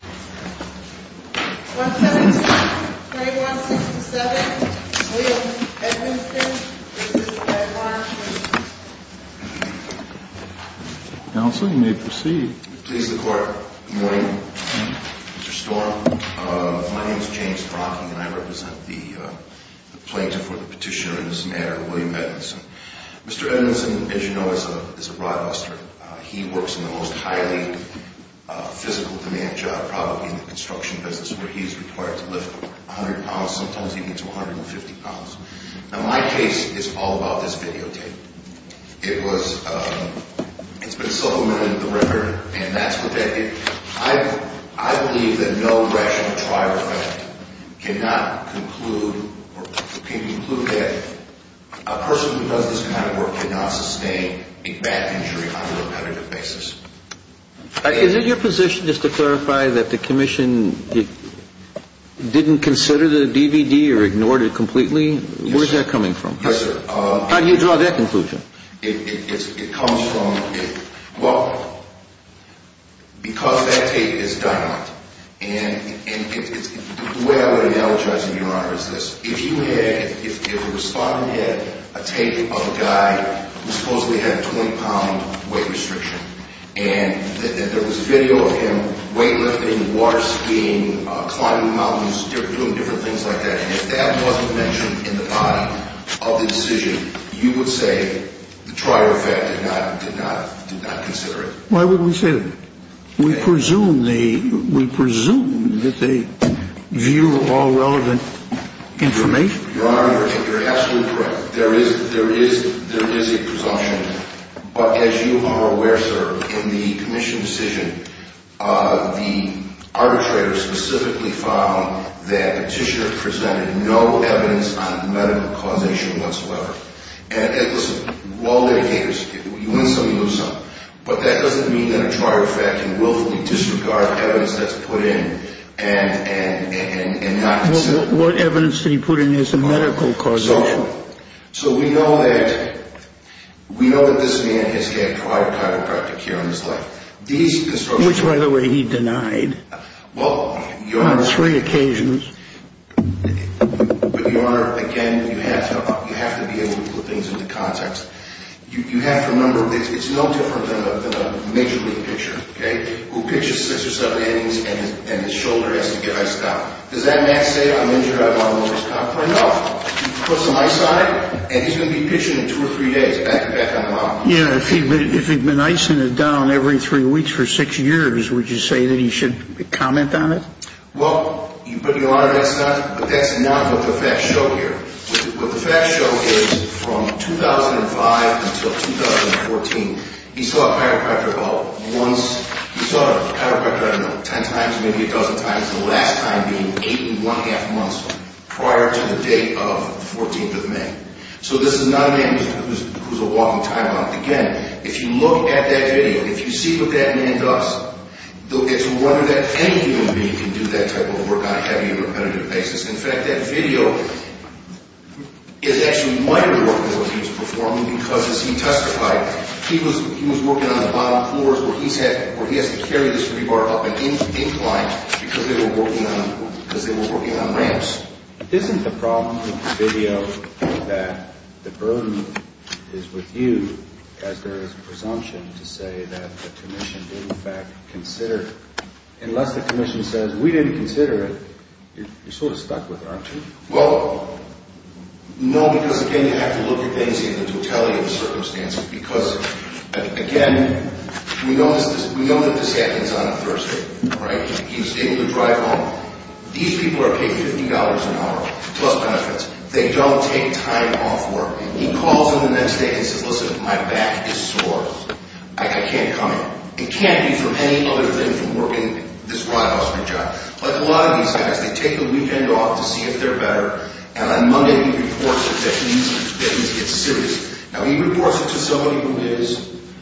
172-3167 William Edmiston v. Ed Marshall Counsel, you may proceed. To the court, good morning. Mr. Storm, my name is James Brachy and I represent the plaintiff for the petitioner and his mayor, William Edmiston. Mr. Edmiston, as you know, is a broadcaster. He works in the most highly physical-demand job, probably in the construction business, where he's required to lift 100 pounds. Sometimes he can do 150 pounds. Now, my case is all about this videotape. It's been supplemented with the record and that's what that is. I believe that no rational trial can conclude that a person who does this kind of work cannot sustain a back injury on a repetitive basis. Is it your position, just to clarify, that the commission didn't consider the DVD or ignored it completely? Where's that coming from? Yes, sir. How do you draw that conclusion? It comes from, well, because that tape is dominant. And the way I would analogize it, Your Honor, is this. If the respondent had a tape of a guy who supposedly had a 20-pound weight restriction and there was video of him weightlifting, water skiing, climbing mountains, doing different things like that, and if that wasn't mentioned in the body of the decision, you would say the trial fact did not consider it. Why would we say that? We presume that they view all relevant information. Your Honor, you're absolutely correct. There is a presumption. But as you are aware, sir, in the commission's decision, the arbitrator specifically found that Petitioner presented no evidence on medical causation whatsoever. And listen, you win some, you lose some. But that doesn't mean that a trial fact willfully disregards evidence that's put in and not consider it. What evidence did he put in as a medical causation? So we know that this man has had prior chiropractic care in his life. Which, by the way, he denied on three occasions. But, Your Honor, again, you have to be able to put things into context. You have to remember it's no different than a major league pitcher who pitches six or seven innings and his shoulder has to get iced out. Does that man say, I'm injured, I want to go to the hospital? No. He puts some ice on it and he's going to be pitching in two or three days back and back on the line. Yeah, if he'd been icing it down every three weeks for six years, would you say that he should comment on it? Well, Your Honor, that's not what the facts show here. What the facts show is from 2005 until 2014, he saw a chiropractor about once. He saw a chiropractor, I don't know, ten times, maybe a dozen times, the last time being eight and one-half months prior to the date of the 14th of May. So this is not a man who's a walking time bomb. Again, if you look at that video, if you see what that man does, it's a wonder that any human being can do that type of work on a heavy or repetitive basis. In fact, that video is actually my report of what he was performing because as he testified, he was working on the bottom floors where he has to carry this rebar up an incline because they were working on ramps. Isn't the problem with the video that the burden is with you as there is a presumption to say that the commission didn't in fact consider it? Unless the commission says we didn't consider it, you're sort of stuck with it, aren't you? Well, no, because again, you have to look at things in the totality of the circumstances because, again, we know that this happens on a Thursday. He was able to drive home. These people are paid $50 an hour plus benefits. They don't take time off work. He calls them the next day and says, listen, my back is sore. I can't come in. It can't be for any other thing from working this ride-housing job. Like a lot of these guys, they take the weekend off to see if they're better, and on Monday he reports that he's hit serious. Now, he reports it to somebody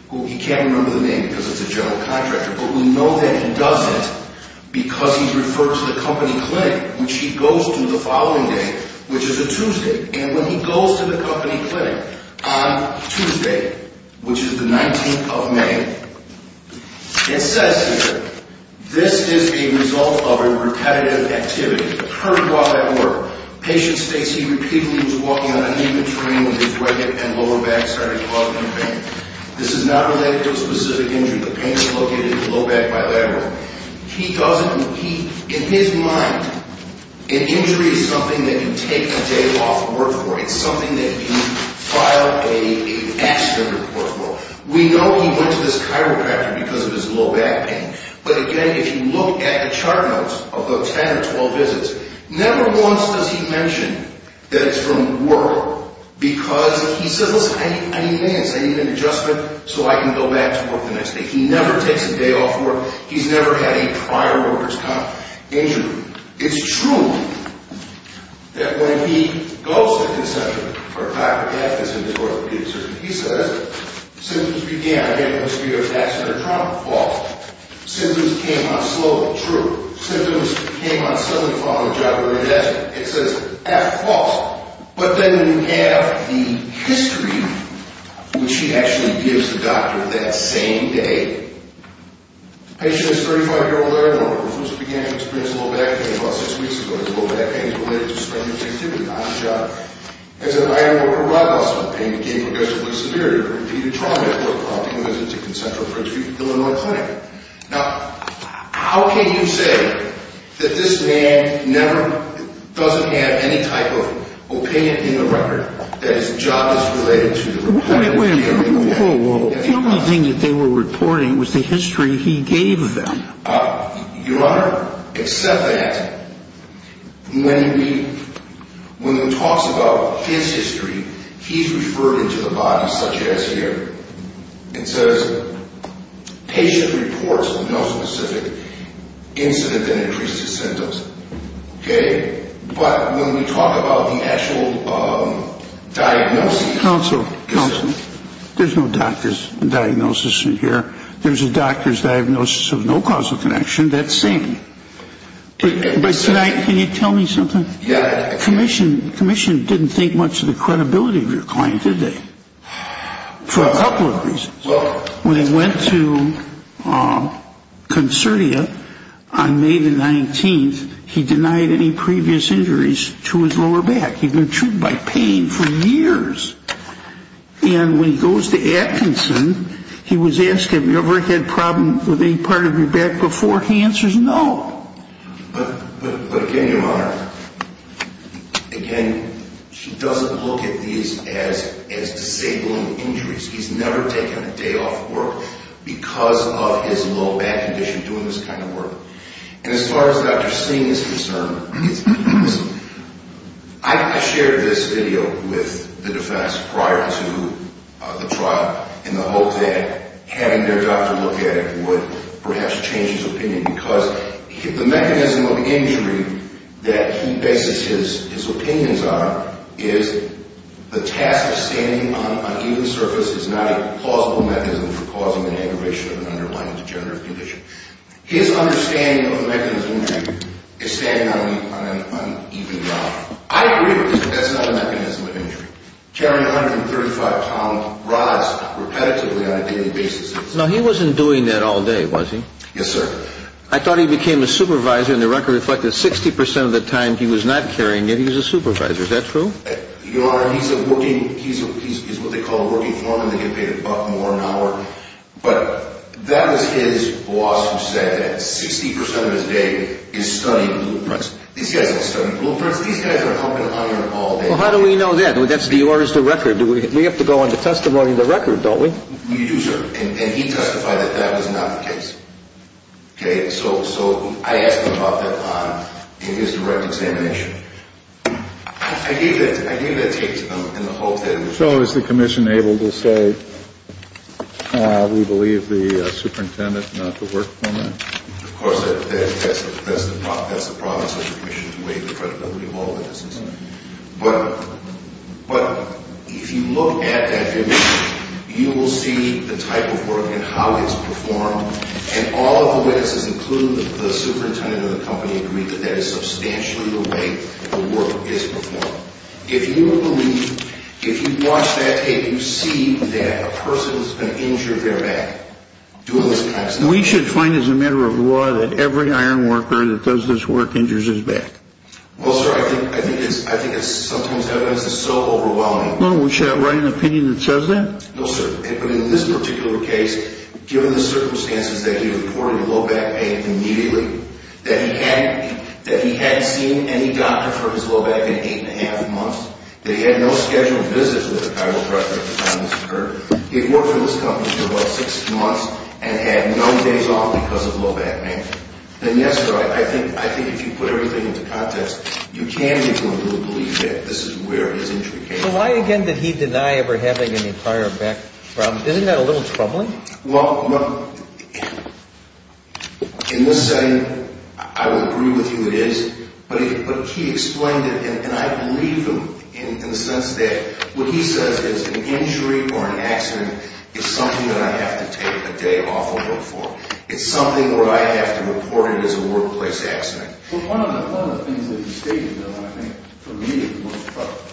who he can't remember the name because it's a general contractor, but we know that he does it because he's referred to the company clinic, which he goes to the following day, which is a Tuesday, and when he goes to the company clinic on Tuesday, which is the 19th of May, it says here, this is a result of a repetitive activity. Patient states he repeatedly was walking on uneven terrain when his right hip and lower back started causing him pain. This is not related to a specific injury. The pain is located in the low back bilateral. In his mind, an injury is something that you take a day off work for. It's something that you file an accident report for. We know he went to this chiropractor because of his low back pain, but again, if you look at the chart notes of the 10 or 12 visits, never once does he mention that it's from work because he says, listen, I need an adjustment so I can go back to work the next day. He never takes a day off work. He's never had a prior worker's comp injury. It's true that when he goes to the consultant or chiropractor, he says, symptoms began, again, it must be an accident or trauma. False. Symptoms came on slowly. True. Symptoms came on slowly following a job or an accident. It says, F, false. But then you have the history, which he actually gives the doctor that same day. The patient is a 35-year-old iron worker who began to experience low back pain about six weeks ago. His low back pain is related to strenuous activity, not a job. As an iron worker, blood loss from pain became progressively severe. He repeated trauma at work, prompting him to visit a concentratory treatment clinic. Now, how can you say that this man never, doesn't have any type of opinion in the record that his job is related to that? The only thing that they were reporting was the history he gave them. Your Honor, except that, when he talks about his history, he's referring to the body such as here. It says, patient reports of no specific incident that increased his symptoms. Okay? But when we talk about the actual diagnosis... Counsel, there's no doctor's diagnosis in here. There's a doctor's diagnosis of no causal connection. That's same. Can you tell me something? Yeah. Commission didn't think much of the credibility of your client, did they? For a couple of reasons. When he went to Concertia on May the 19th, he denied any previous injuries to his lower back. He'd been treated by pain for years. And when he goes to Atkinson, he was asked, have you ever had problems with any part of your back before? He answers, no. But again, Your Honor, again, he doesn't look at these as disabling injuries. He's never taken a day off work because of his low back condition doing this kind of work. And as far as Dr. Singh is concerned, I shared this video with the defense prior to the trial in the hope that having their doctor look at it would perhaps change his opinion. Because the mechanism of injury that he bases his opinions on is the task of standing on an uneven surface is not a plausible mechanism for causing an aggravation of an underlying degenerative condition. His understanding of the mechanism of injury is standing on an uneven ground. I agree with this, but that's not a mechanism of injury. Carrying 135-pound rods repetitively on a daily basis. No, he wasn't doing that all day, was he? Yes, sir. I thought he became a supervisor, and the record reflected 60 percent of the time he was not carrying it, he was a supervisor. Is that true? Your Honor, he's a working, he's what they call a working foreman. They get paid a buck more an hour. But that was his boss who said that 60 percent of his day is studying blueprints. These guys don't study blueprints. These guys are pumping iron all day. Well, how do we know that? That's the orders of the record. We have to go on the testimony of the record, don't we? And he testified that that was not the case. Okay? So I asked him about that in his direct examination. I gave that tape to them in the hope that it would show. So is the commission able to say, we believe the superintendent is not the working foreman? Of course, that's the promise of the commission to weigh the credibility of all witnesses. But if you look at that video, you will see the type of work and how it's performed, and all of the witnesses, including the superintendent of the company, agree that that is substantially the way the work is performed. If you believe, if you watch that tape, you see that a person has been injured in their back doing this type of thing. We should find as a matter of law that every iron worker that does this work injures his back. Well, sir, I think it's sometimes evidence that's so overwhelming. Well, should I write an opinion that says that? No, sir. But in this particular case, given the circumstances that he reported low back pain immediately, that he hadn't seen any doctor for his low back in eight and a half months, that he had no scheduled visits with a chiropractor at the time this occurred, he had worked for this company for about six months and had no days off because of low back pain. Then, yes, sir, I think if you put everything into context, you can be able to believe that this is where his injury came from. So why, again, did he deny ever having any prior back problems? Isn't that a little troubling? Well, in this setting, I would agree with you it is, but he explained it, and I believe him in the sense that what he says is an injury or an accident is something that I have to take a day off and look for. It's something where I have to report it as a workplace accident. Well, one of the things that he stated, though, and I think for me it was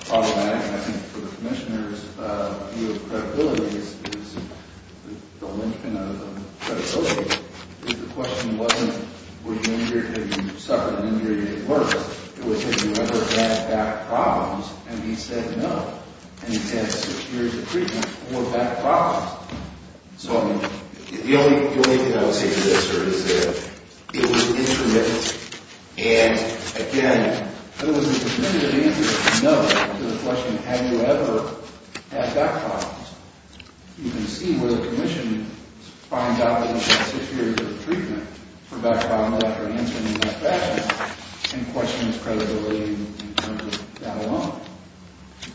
problematic, and I think for the commissioners, your credibility is the linchpin of the credibility, is the question wasn't, were you injured, had you suffered an injury, did it work? It was, have you ever had back problems? And he said no, and he's had six years of treatment and no back problems. So the only thing I would say to this, sir, is that it was intermittent, and, again, it was an intermittent answer, no, to the question, have you ever had back problems? You can see where the commission finds out that he had six years of treatment for back problems after an injury in that fashion and questions credibility in terms of that alone.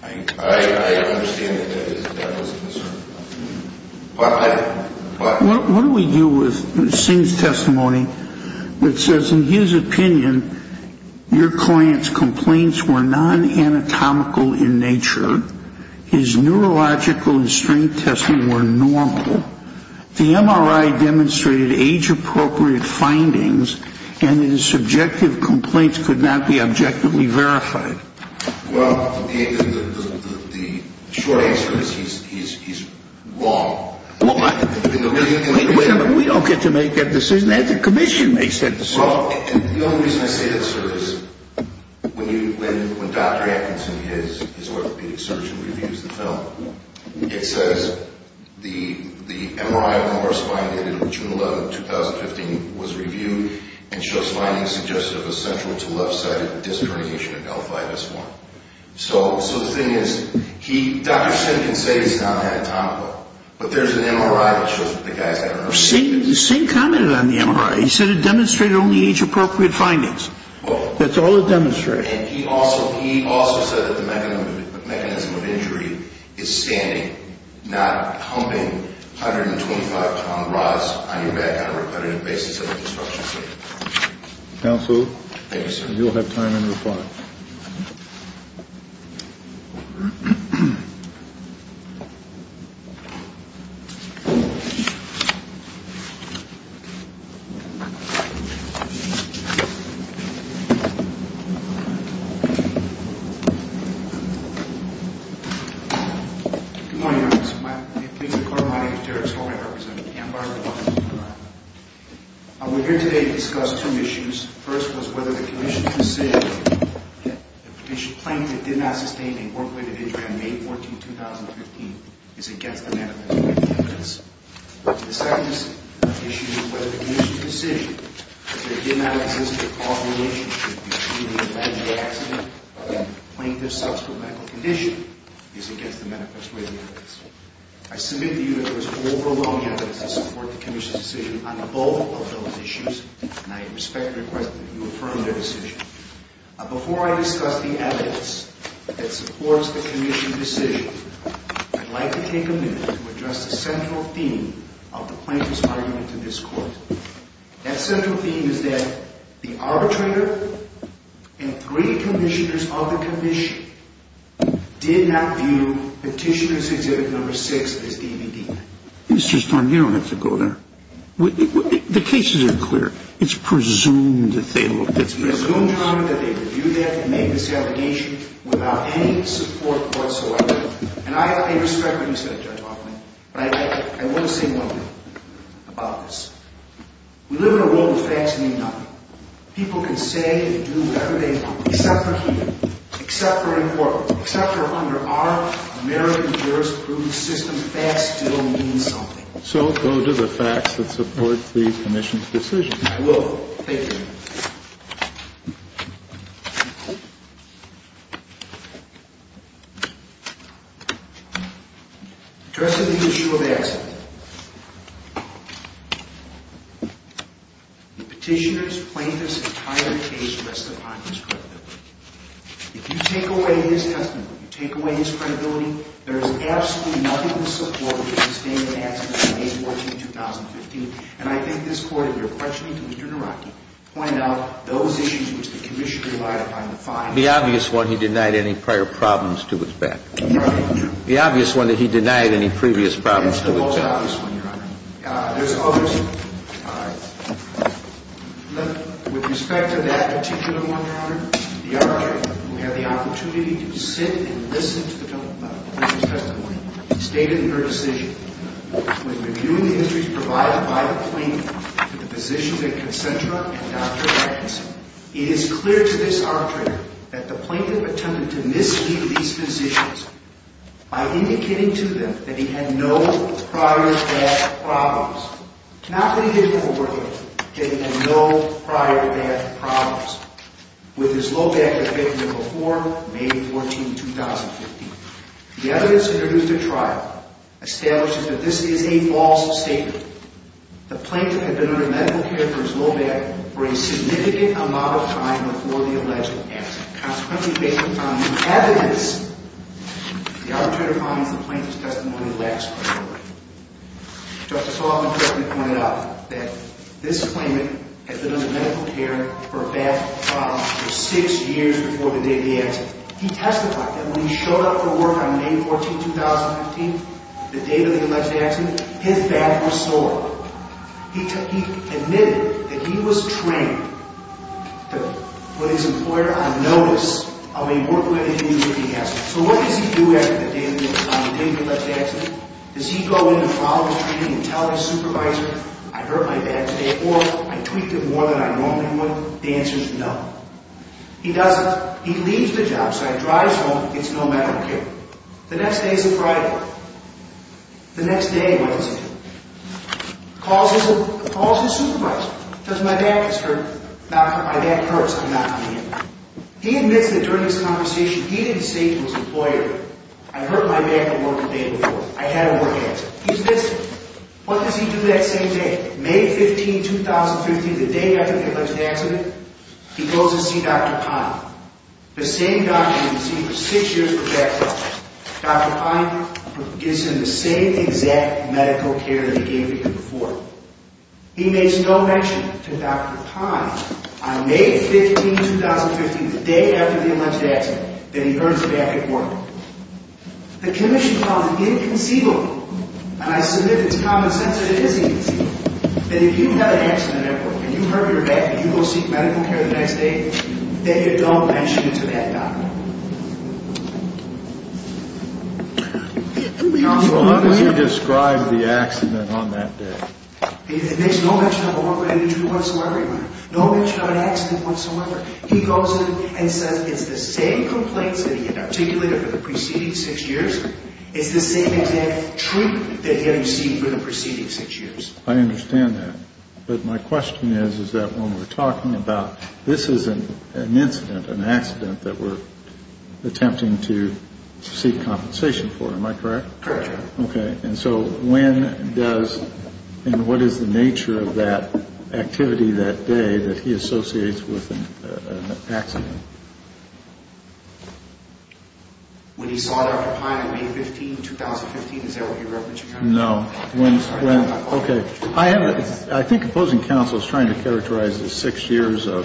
I understand that that was a concern. What do we do with Singh's testimony that says, in his opinion, your client's complaints were non-anatomical in nature, his neurological and strength testing were normal, the MRI demonstrated age-appropriate findings, and his subjective complaints could not be objectively verified? Well, the short answer is he's wrong. Wait a minute, we don't get to make that decision, that's a commission, they said. Well, the only reason I say that, sir, is when Dr. Atkinson, his orthopedic surgeon, reviews the film, it says the MRI of the lower spine dated June 11, 2015, was reviewed and shows findings suggestive of central to left-sided disc herniation of delphitis 1. So the thing is, Dr. Singh can say it's non-anatomical, but there's an MRI that shows that the guy's had an early... Well, Dr. Singh commented on the MRI, he said it demonstrated only age-appropriate findings. That's all it demonstrated. And he also said that the mechanism of injury is standing, not humping 125-ton rods on your back on a repetitive basis of obstruction. Counsel? Yes, sir. You'll have time in reply. Good morning, Your Honor. My name is Victor Coromante, Derek's former representative. I'm here today to discuss two issues. The first was whether the commission's decision that a plaintiff did not sustain a work-related injury on May 14, 2015 is against the manifest way of the evidence. The second issue is whether the commission's decision that there did not exist a causal relationship between the alleged accident and the plaintiff's subsequent medical condition is against the manifest way of the evidence. I submit to you that there is overwhelming evidence to support the commission's decision on both of those issues, and I respectfully request that you affirm their decision. Before I discuss the evidence that supports the commission's decision, I'd like to take a minute to address the central theme of the plaintiff's argument to this Court. That central theme is that the arbitrator and three commissioners of the commission did not view Petitioner's Exhibit No. 6 as DVD. Mr. Stern, you don't have to go there. The cases are clear. It's presumed that they looked at the evidence. It's presumed, Your Honor, that they reviewed that and made this allegation without any support whatsoever. And I have to pay respect to you, Mr. Judge Hoffman, but I want to say one thing about this. We live in a world where facts mean nothing. People can say and do whatever they want, except for here, except for in court, except for under our American jurisprudence system, facts still mean something. So go to the facts that support the commission's decision. I will. Thank you. Addressing the issue of accident, the Petitioner's plaintiff's entire case rests upon his credibility. If you take away his testimony, if you take away his credibility, there is absolutely nothing to support his statement of accident on May 14, 2015. And I think this Court, if you're questioning Commissioner Naraki, pointed out those issues which the commission relied upon to find. The obvious one, he denied any prior problems to his back. The obvious one, that he denied any previous problems to his back. That's the most obvious one, Your Honor. There's others. With respect to that Petitioner, Your Honor, the arbitrator, who had the opportunity to sit and listen to the testimony, stated in her decision, when reviewing the injuries provided by the plaintiff to the physician at Concentra and Dr. Atkinson, it is clear to this arbitrator that the plaintiff attempted to mislead these physicians by indicating to them that he had no prior back problems. Not only did it afford him that he had no prior back problems with his low back that had been there before May 14, 2015. The evidence introduced at trial establishes that this is a false statement. The plaintiff had been under medical care for his low back for a significant amount of time before the alleged accident. Consequently, based on the evidence, the arbitrator finds the plaintiff's testimony lacks credibility. Justice Hoffman correctly pointed out that this claimant had been under medical care for a back problem for six years before the day of the accident. He testified that when he showed up for work on May 14, 2015, the day of the alleged accident, his back was sore. He admitted that he was trained to put his employer on notice of a work-related injury he has. So what does he do after the day of the alleged accident? Does he go into trial and tell his supervisor, I hurt my back today, or I tweaked it more than I normally would? The answer is no. He doesn't. He leaves the job site, drives home, gets no medical care. The next day is a Friday. The next day, what does he do? Calls his supervisor. Tells him, my back is hurt. My back hurts. I'm not doing it. He admits that during this conversation, he didn't say to his employer, I hurt my back on work the day before. I had a work accident. He admits it. What does he do that same day, May 15, 2015, the day after the alleged accident? He goes to see Dr. Pine. The same doctor he'd seen for six years for back problems. Dr. Pine gives him the same exact medical care that he gave to him before. He makes no mention to Dr. Pine on May 15, 2015, the day after the alleged accident, that he hurts his back at work. The commission calls it inconceivable, and I submit it's common sense that it is inconceivable, that if you've had an accident at work and you hurt your back and you go seek medical care the next day, that you don't mention it to that doctor. So how does he describe the accident on that day? He makes no mention of it whatsoever. No mention of an accident whatsoever. He goes in and says it's the same complaints that he had articulated for the preceding six years. It's the same exact treatment that he had received for the preceding six years. I understand that. But my question is, is that when we're talking about this is an incident, an accident, that we're attempting to seek compensation for, am I correct? Correct. Okay. And so when does, and what is the nature of that activity that day that he associates with an accident? When he saw Dr. Pine on May 15, 2015, is that what you're referencing? No. Okay. I think opposing counsel is trying to characterize the six years of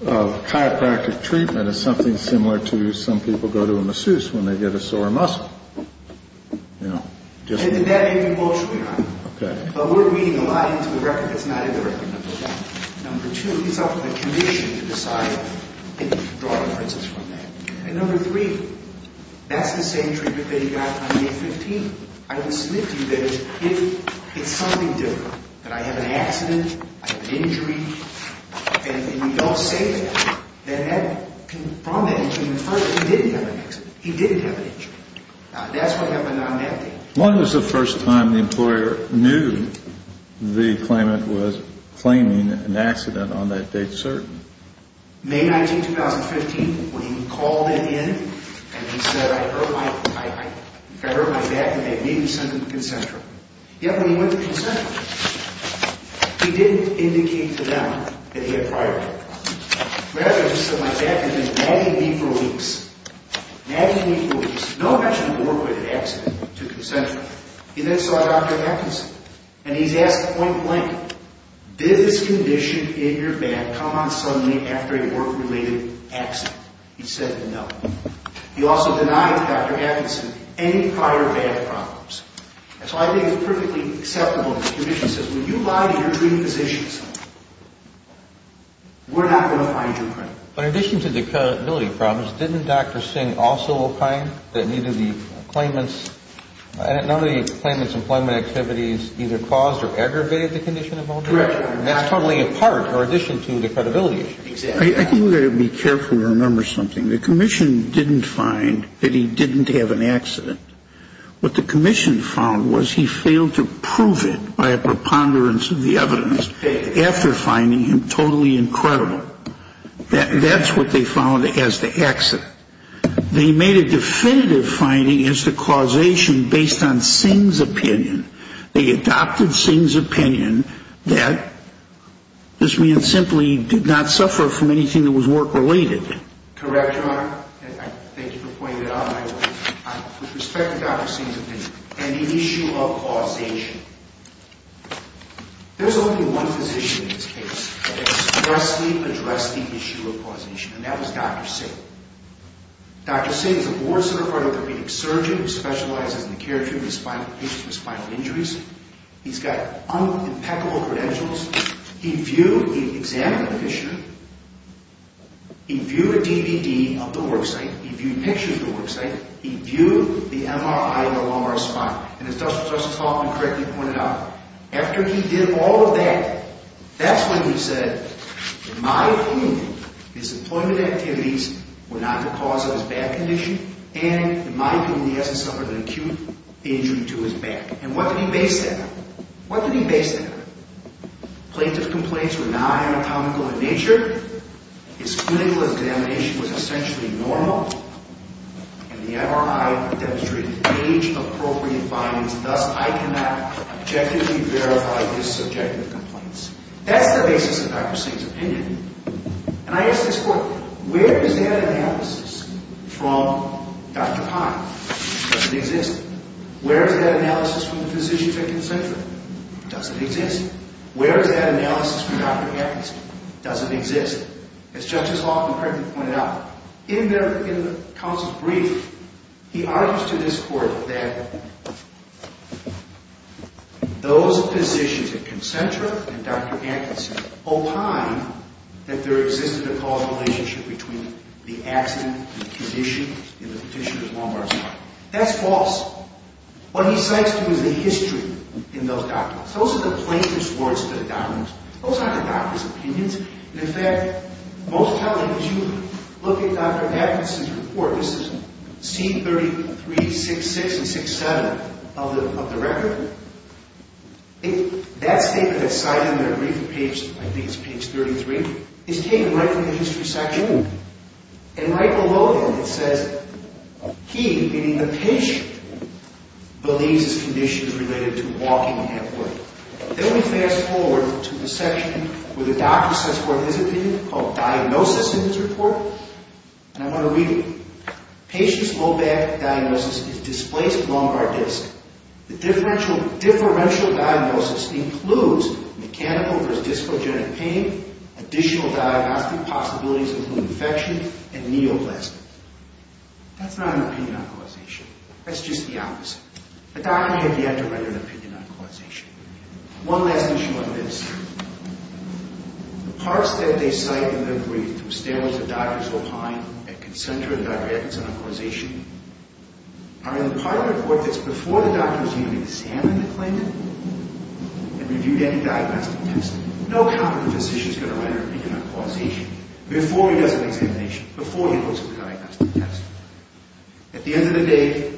chiropractic treatment as something similar to some people go to a masseuse when they get a sore muscle, you know. That may be partially right. Okay. But we're reading a lot into the record that's not in the record. Number one. Number two, he's offered a condition to decide if he can draw the princess from that. And number three, that's the same treatment that he got on May 15. I would submit to you that it's something different, that I have an accident, I have an injury, and you don't say that from that injury. First, he didn't have an accident. He didn't have an injury. That's what happened on that day. When was the first time the employer knew the claimant was claiming an accident on that date certain? May 19, 2015. When he called it in and he said, I heard my back and they made me send him to the consensual. Yet when he went to the consensual, he didn't indicate to them that he had prior work. Rather, he said my back had been nagging me for weeks, nagging me for weeks. No mention of a work-related accident took him to the consensual. He then saw Dr. Atkinson, and he's asked point blank, did this condition in your back come on suddenly after a work-related accident? He said no. He also denied Dr. Atkinson any prior back problems. And so I think it's perfectly acceptable that the condition says, when you lie to your treating physicians, we're not going to find you a claimant. But in addition to the credibility problems, didn't Dr. Singh also opine that none of the claimant's employment activities either caused or aggravated the condition of the owner? That's totally a part or addition to the credibility issue. I think we've got to be careful to remember something. The commission didn't find that he didn't have an accident. What the commission found was he failed to prove it by a preponderance of the evidence after finding him totally incredible. That's what they found as the accident. They made a definitive finding as to causation based on Singh's opinion. They adopted Singh's opinion that this man simply did not suffer from anything that was work-related. Correct, Your Honor. Thank you for pointing it out. With respect to Dr. Singh's opinion and the issue of causation, there's only one physician in this case that expressly addressed the issue of causation, and that was Dr. Singh. Dr. Singh is a board-centered cardiothoracic surgeon who specializes in the care of patients with spinal injuries. He's got impeccable credentials. He examined the patient. He viewed a DVD of the worksite. He viewed pictures of the worksite. He viewed the MRI of the lumbar spine. And as Justice Hoffman correctly pointed out, after he did all of that, that's when he said, in my opinion, his employment activities were not the cause of his back condition, and in my opinion, he hasn't suffered an acute injury to his back. And what did he base that on? What did he base that on? Plaintiff's complaints were not anatomical in nature. His clinical examination was essentially normal. And the MRI demonstrated age-appropriate findings. Thus, I cannot objectively verify his subjective complaints. That's the basis of Dr. Singh's opinion. And I ask this court, where is that analysis from Dr. Pine? It doesn't exist. Where is that analysis from the physician, Dr. Zinker? It doesn't exist. Where is that analysis from Dr. Evans? It doesn't exist. As Justice Hoffman correctly pointed out, in the counsel's brief, he argues to this court that those physicians at Concentra and Dr. Atkinson opine that there existed a causal relationship between the accident and the condition in the petitioner's lumbar spine. That's false. What he cites to you is the history in those documents. Those are the plaintiff's words to the documents. Those aren't the doctor's opinions. In fact, most probably, as you look at Dr. Atkinson's report, this is C33-66 and 67 of the record, that statement that's cited in that brief, I think it's page 33, is taken right from the history section. And right below that, it says he, meaning the patient, believes his condition is related to walking halfway. Then we fast forward to the section where the doctor says what his opinion, called diagnosis in his report, and I want to read it. Patient's low back diagnosis is displaced lumbar disc. The differential diagnosis includes mechanical versus discogenic pain. Additional diagnostic possibilities include infection and neoplasm. That's not an opinion on causation. That's just the opposite. The doctor had yet to write an opinion on causation. One last issue on this. The parts that they cite in their brief, the standards that doctors opine and can center in Dr. Atkinson on causation, are in the part of the report that's before the doctor's even examined the plaintiff and reviewed any diagnostic test. No competent physician is going to write an opinion on causation before he does an examination, before he looks at the diagnostic test. At the end of the day,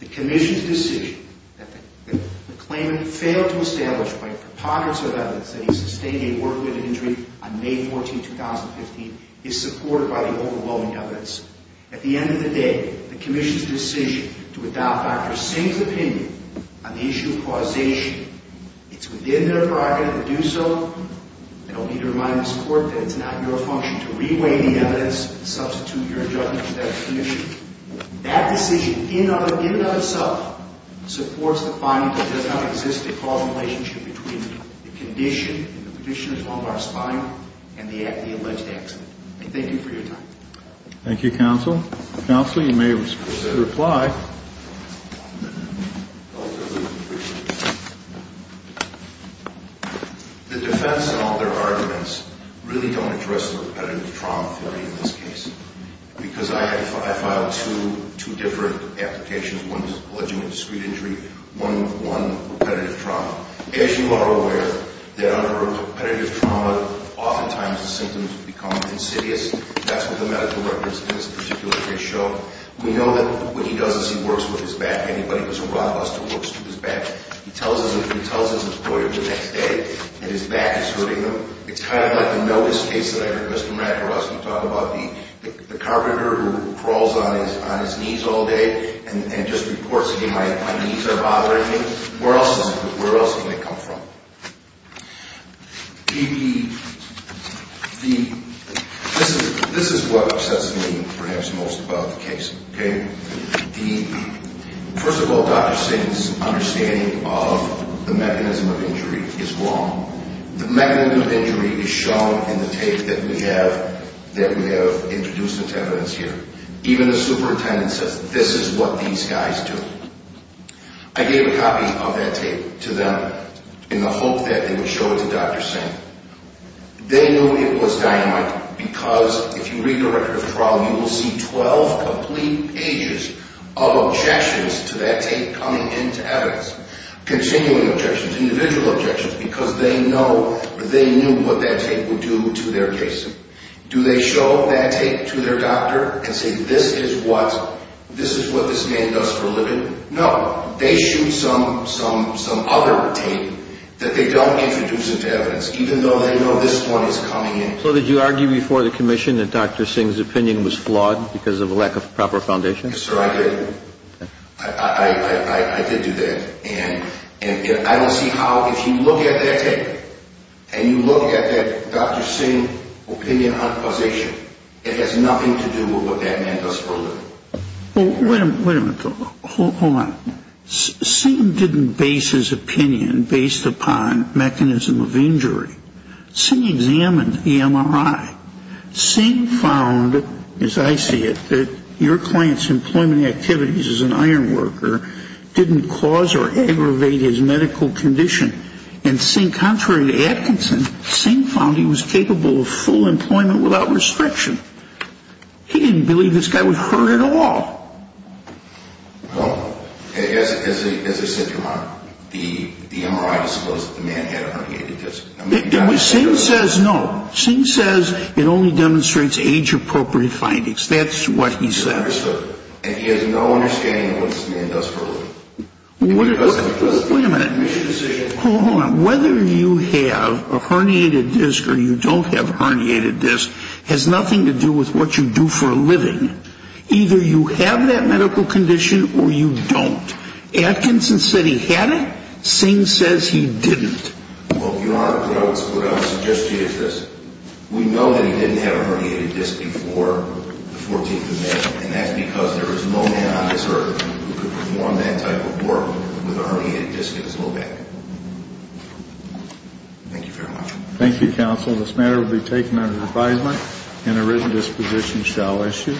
the commission's decision that the claimant failed to establish by a preponderance of evidence that he sustained a work-related injury on May 14, 2015, is supported by the overwhelming evidence. At the end of the day, the commission's decision to adopt Dr. Singh's opinion on the issue of causation, it's within their prerogative to do so. I don't need to remind this court that it's not your function to reweigh the evidence and substitute your judgment to that of the commission. That decision, in and of itself, supports the finding that there does not exist a causal relationship between the condition, the condition of our spine, and the alleged accident. I thank you for your time. Thank you, counsel. Counsel, you may proceed to reply. The defense and all their arguments really don't address the repetitive trauma theory in this case because I filed two different applications, one alleging a discreet injury, one repetitive trauma. As you are aware, there are repetitive trauma, oftentimes the symptoms become insidious. That's what the medical records in this particular case show. We know that what he does is he works with his back. Anybody who's a rockbuster works to his back. He tells his employer the next day that his back is hurting him. It's kind of like the notice case that I heard Mr. McElrust talk about, the carpenter who crawls on his knees all day and just reports to me my knees are bothering me. Where else is he going to come from? This is what upsets me perhaps most about the case. First of all, Dr. Singh's understanding of the mechanism of injury is wrong. The mechanism of injury is shown in the tape that we have introduced into evidence here. Even the superintendent says this is what these guys do. I gave a copy of that tape to them in the hope that they would show it to Dr. Singh. They knew it was dynamite because if you read the record of trauma, you will see 12 complete pages of objections to that tape coming into evidence, continuing objections, individual objections, because they knew what that tape would do to their case. Do they show that tape to their doctor and say this is what this man does for a living? No. They shoot some other tape that they don't introduce into evidence, even though they know this one is coming in. So did you argue before the commission that Dr. Singh's opinion was flawed because of a lack of proper foundation? Yes, sir, I did. I did do that. And I will see how if you look at that tape and you look at that Dr. Singh opinion on causation, it has nothing to do with what that man does for a living. Well, wait a minute. Hold on. Singh didn't base his opinion based upon mechanism of injury. Singh examined the MRI. Singh found, as I see it, that your client's employment activities as an iron worker didn't cause or aggravate his medical condition. And Singh, contrary to Atkinson, Singh found he was capable of full employment without restriction. He didn't believe this guy was hurt at all. Well, as I said, your Honor, the MRI disclosed that the man had a herniated disc. Singh says no. Singh says it only demonstrates age-appropriate findings. That's what he said. And he has no understanding of what this man does for a living. Wait a minute. Hold on. Whether you have a herniated disc or you don't have a herniated disc has nothing to do with what you do for a living. Either you have that medical condition or you don't. Atkinson said he had it. Singh says he didn't. Well, Your Honor, what I would suggest to you is this. We know that he didn't have a herniated disc before the 14th Amendment. And that's because there is no man on this earth who could perform that type of work with a herniated disc in his low back. Thank you very much. Thank you, counsel. This matter will be taken under advisement and a written disposition shall issue.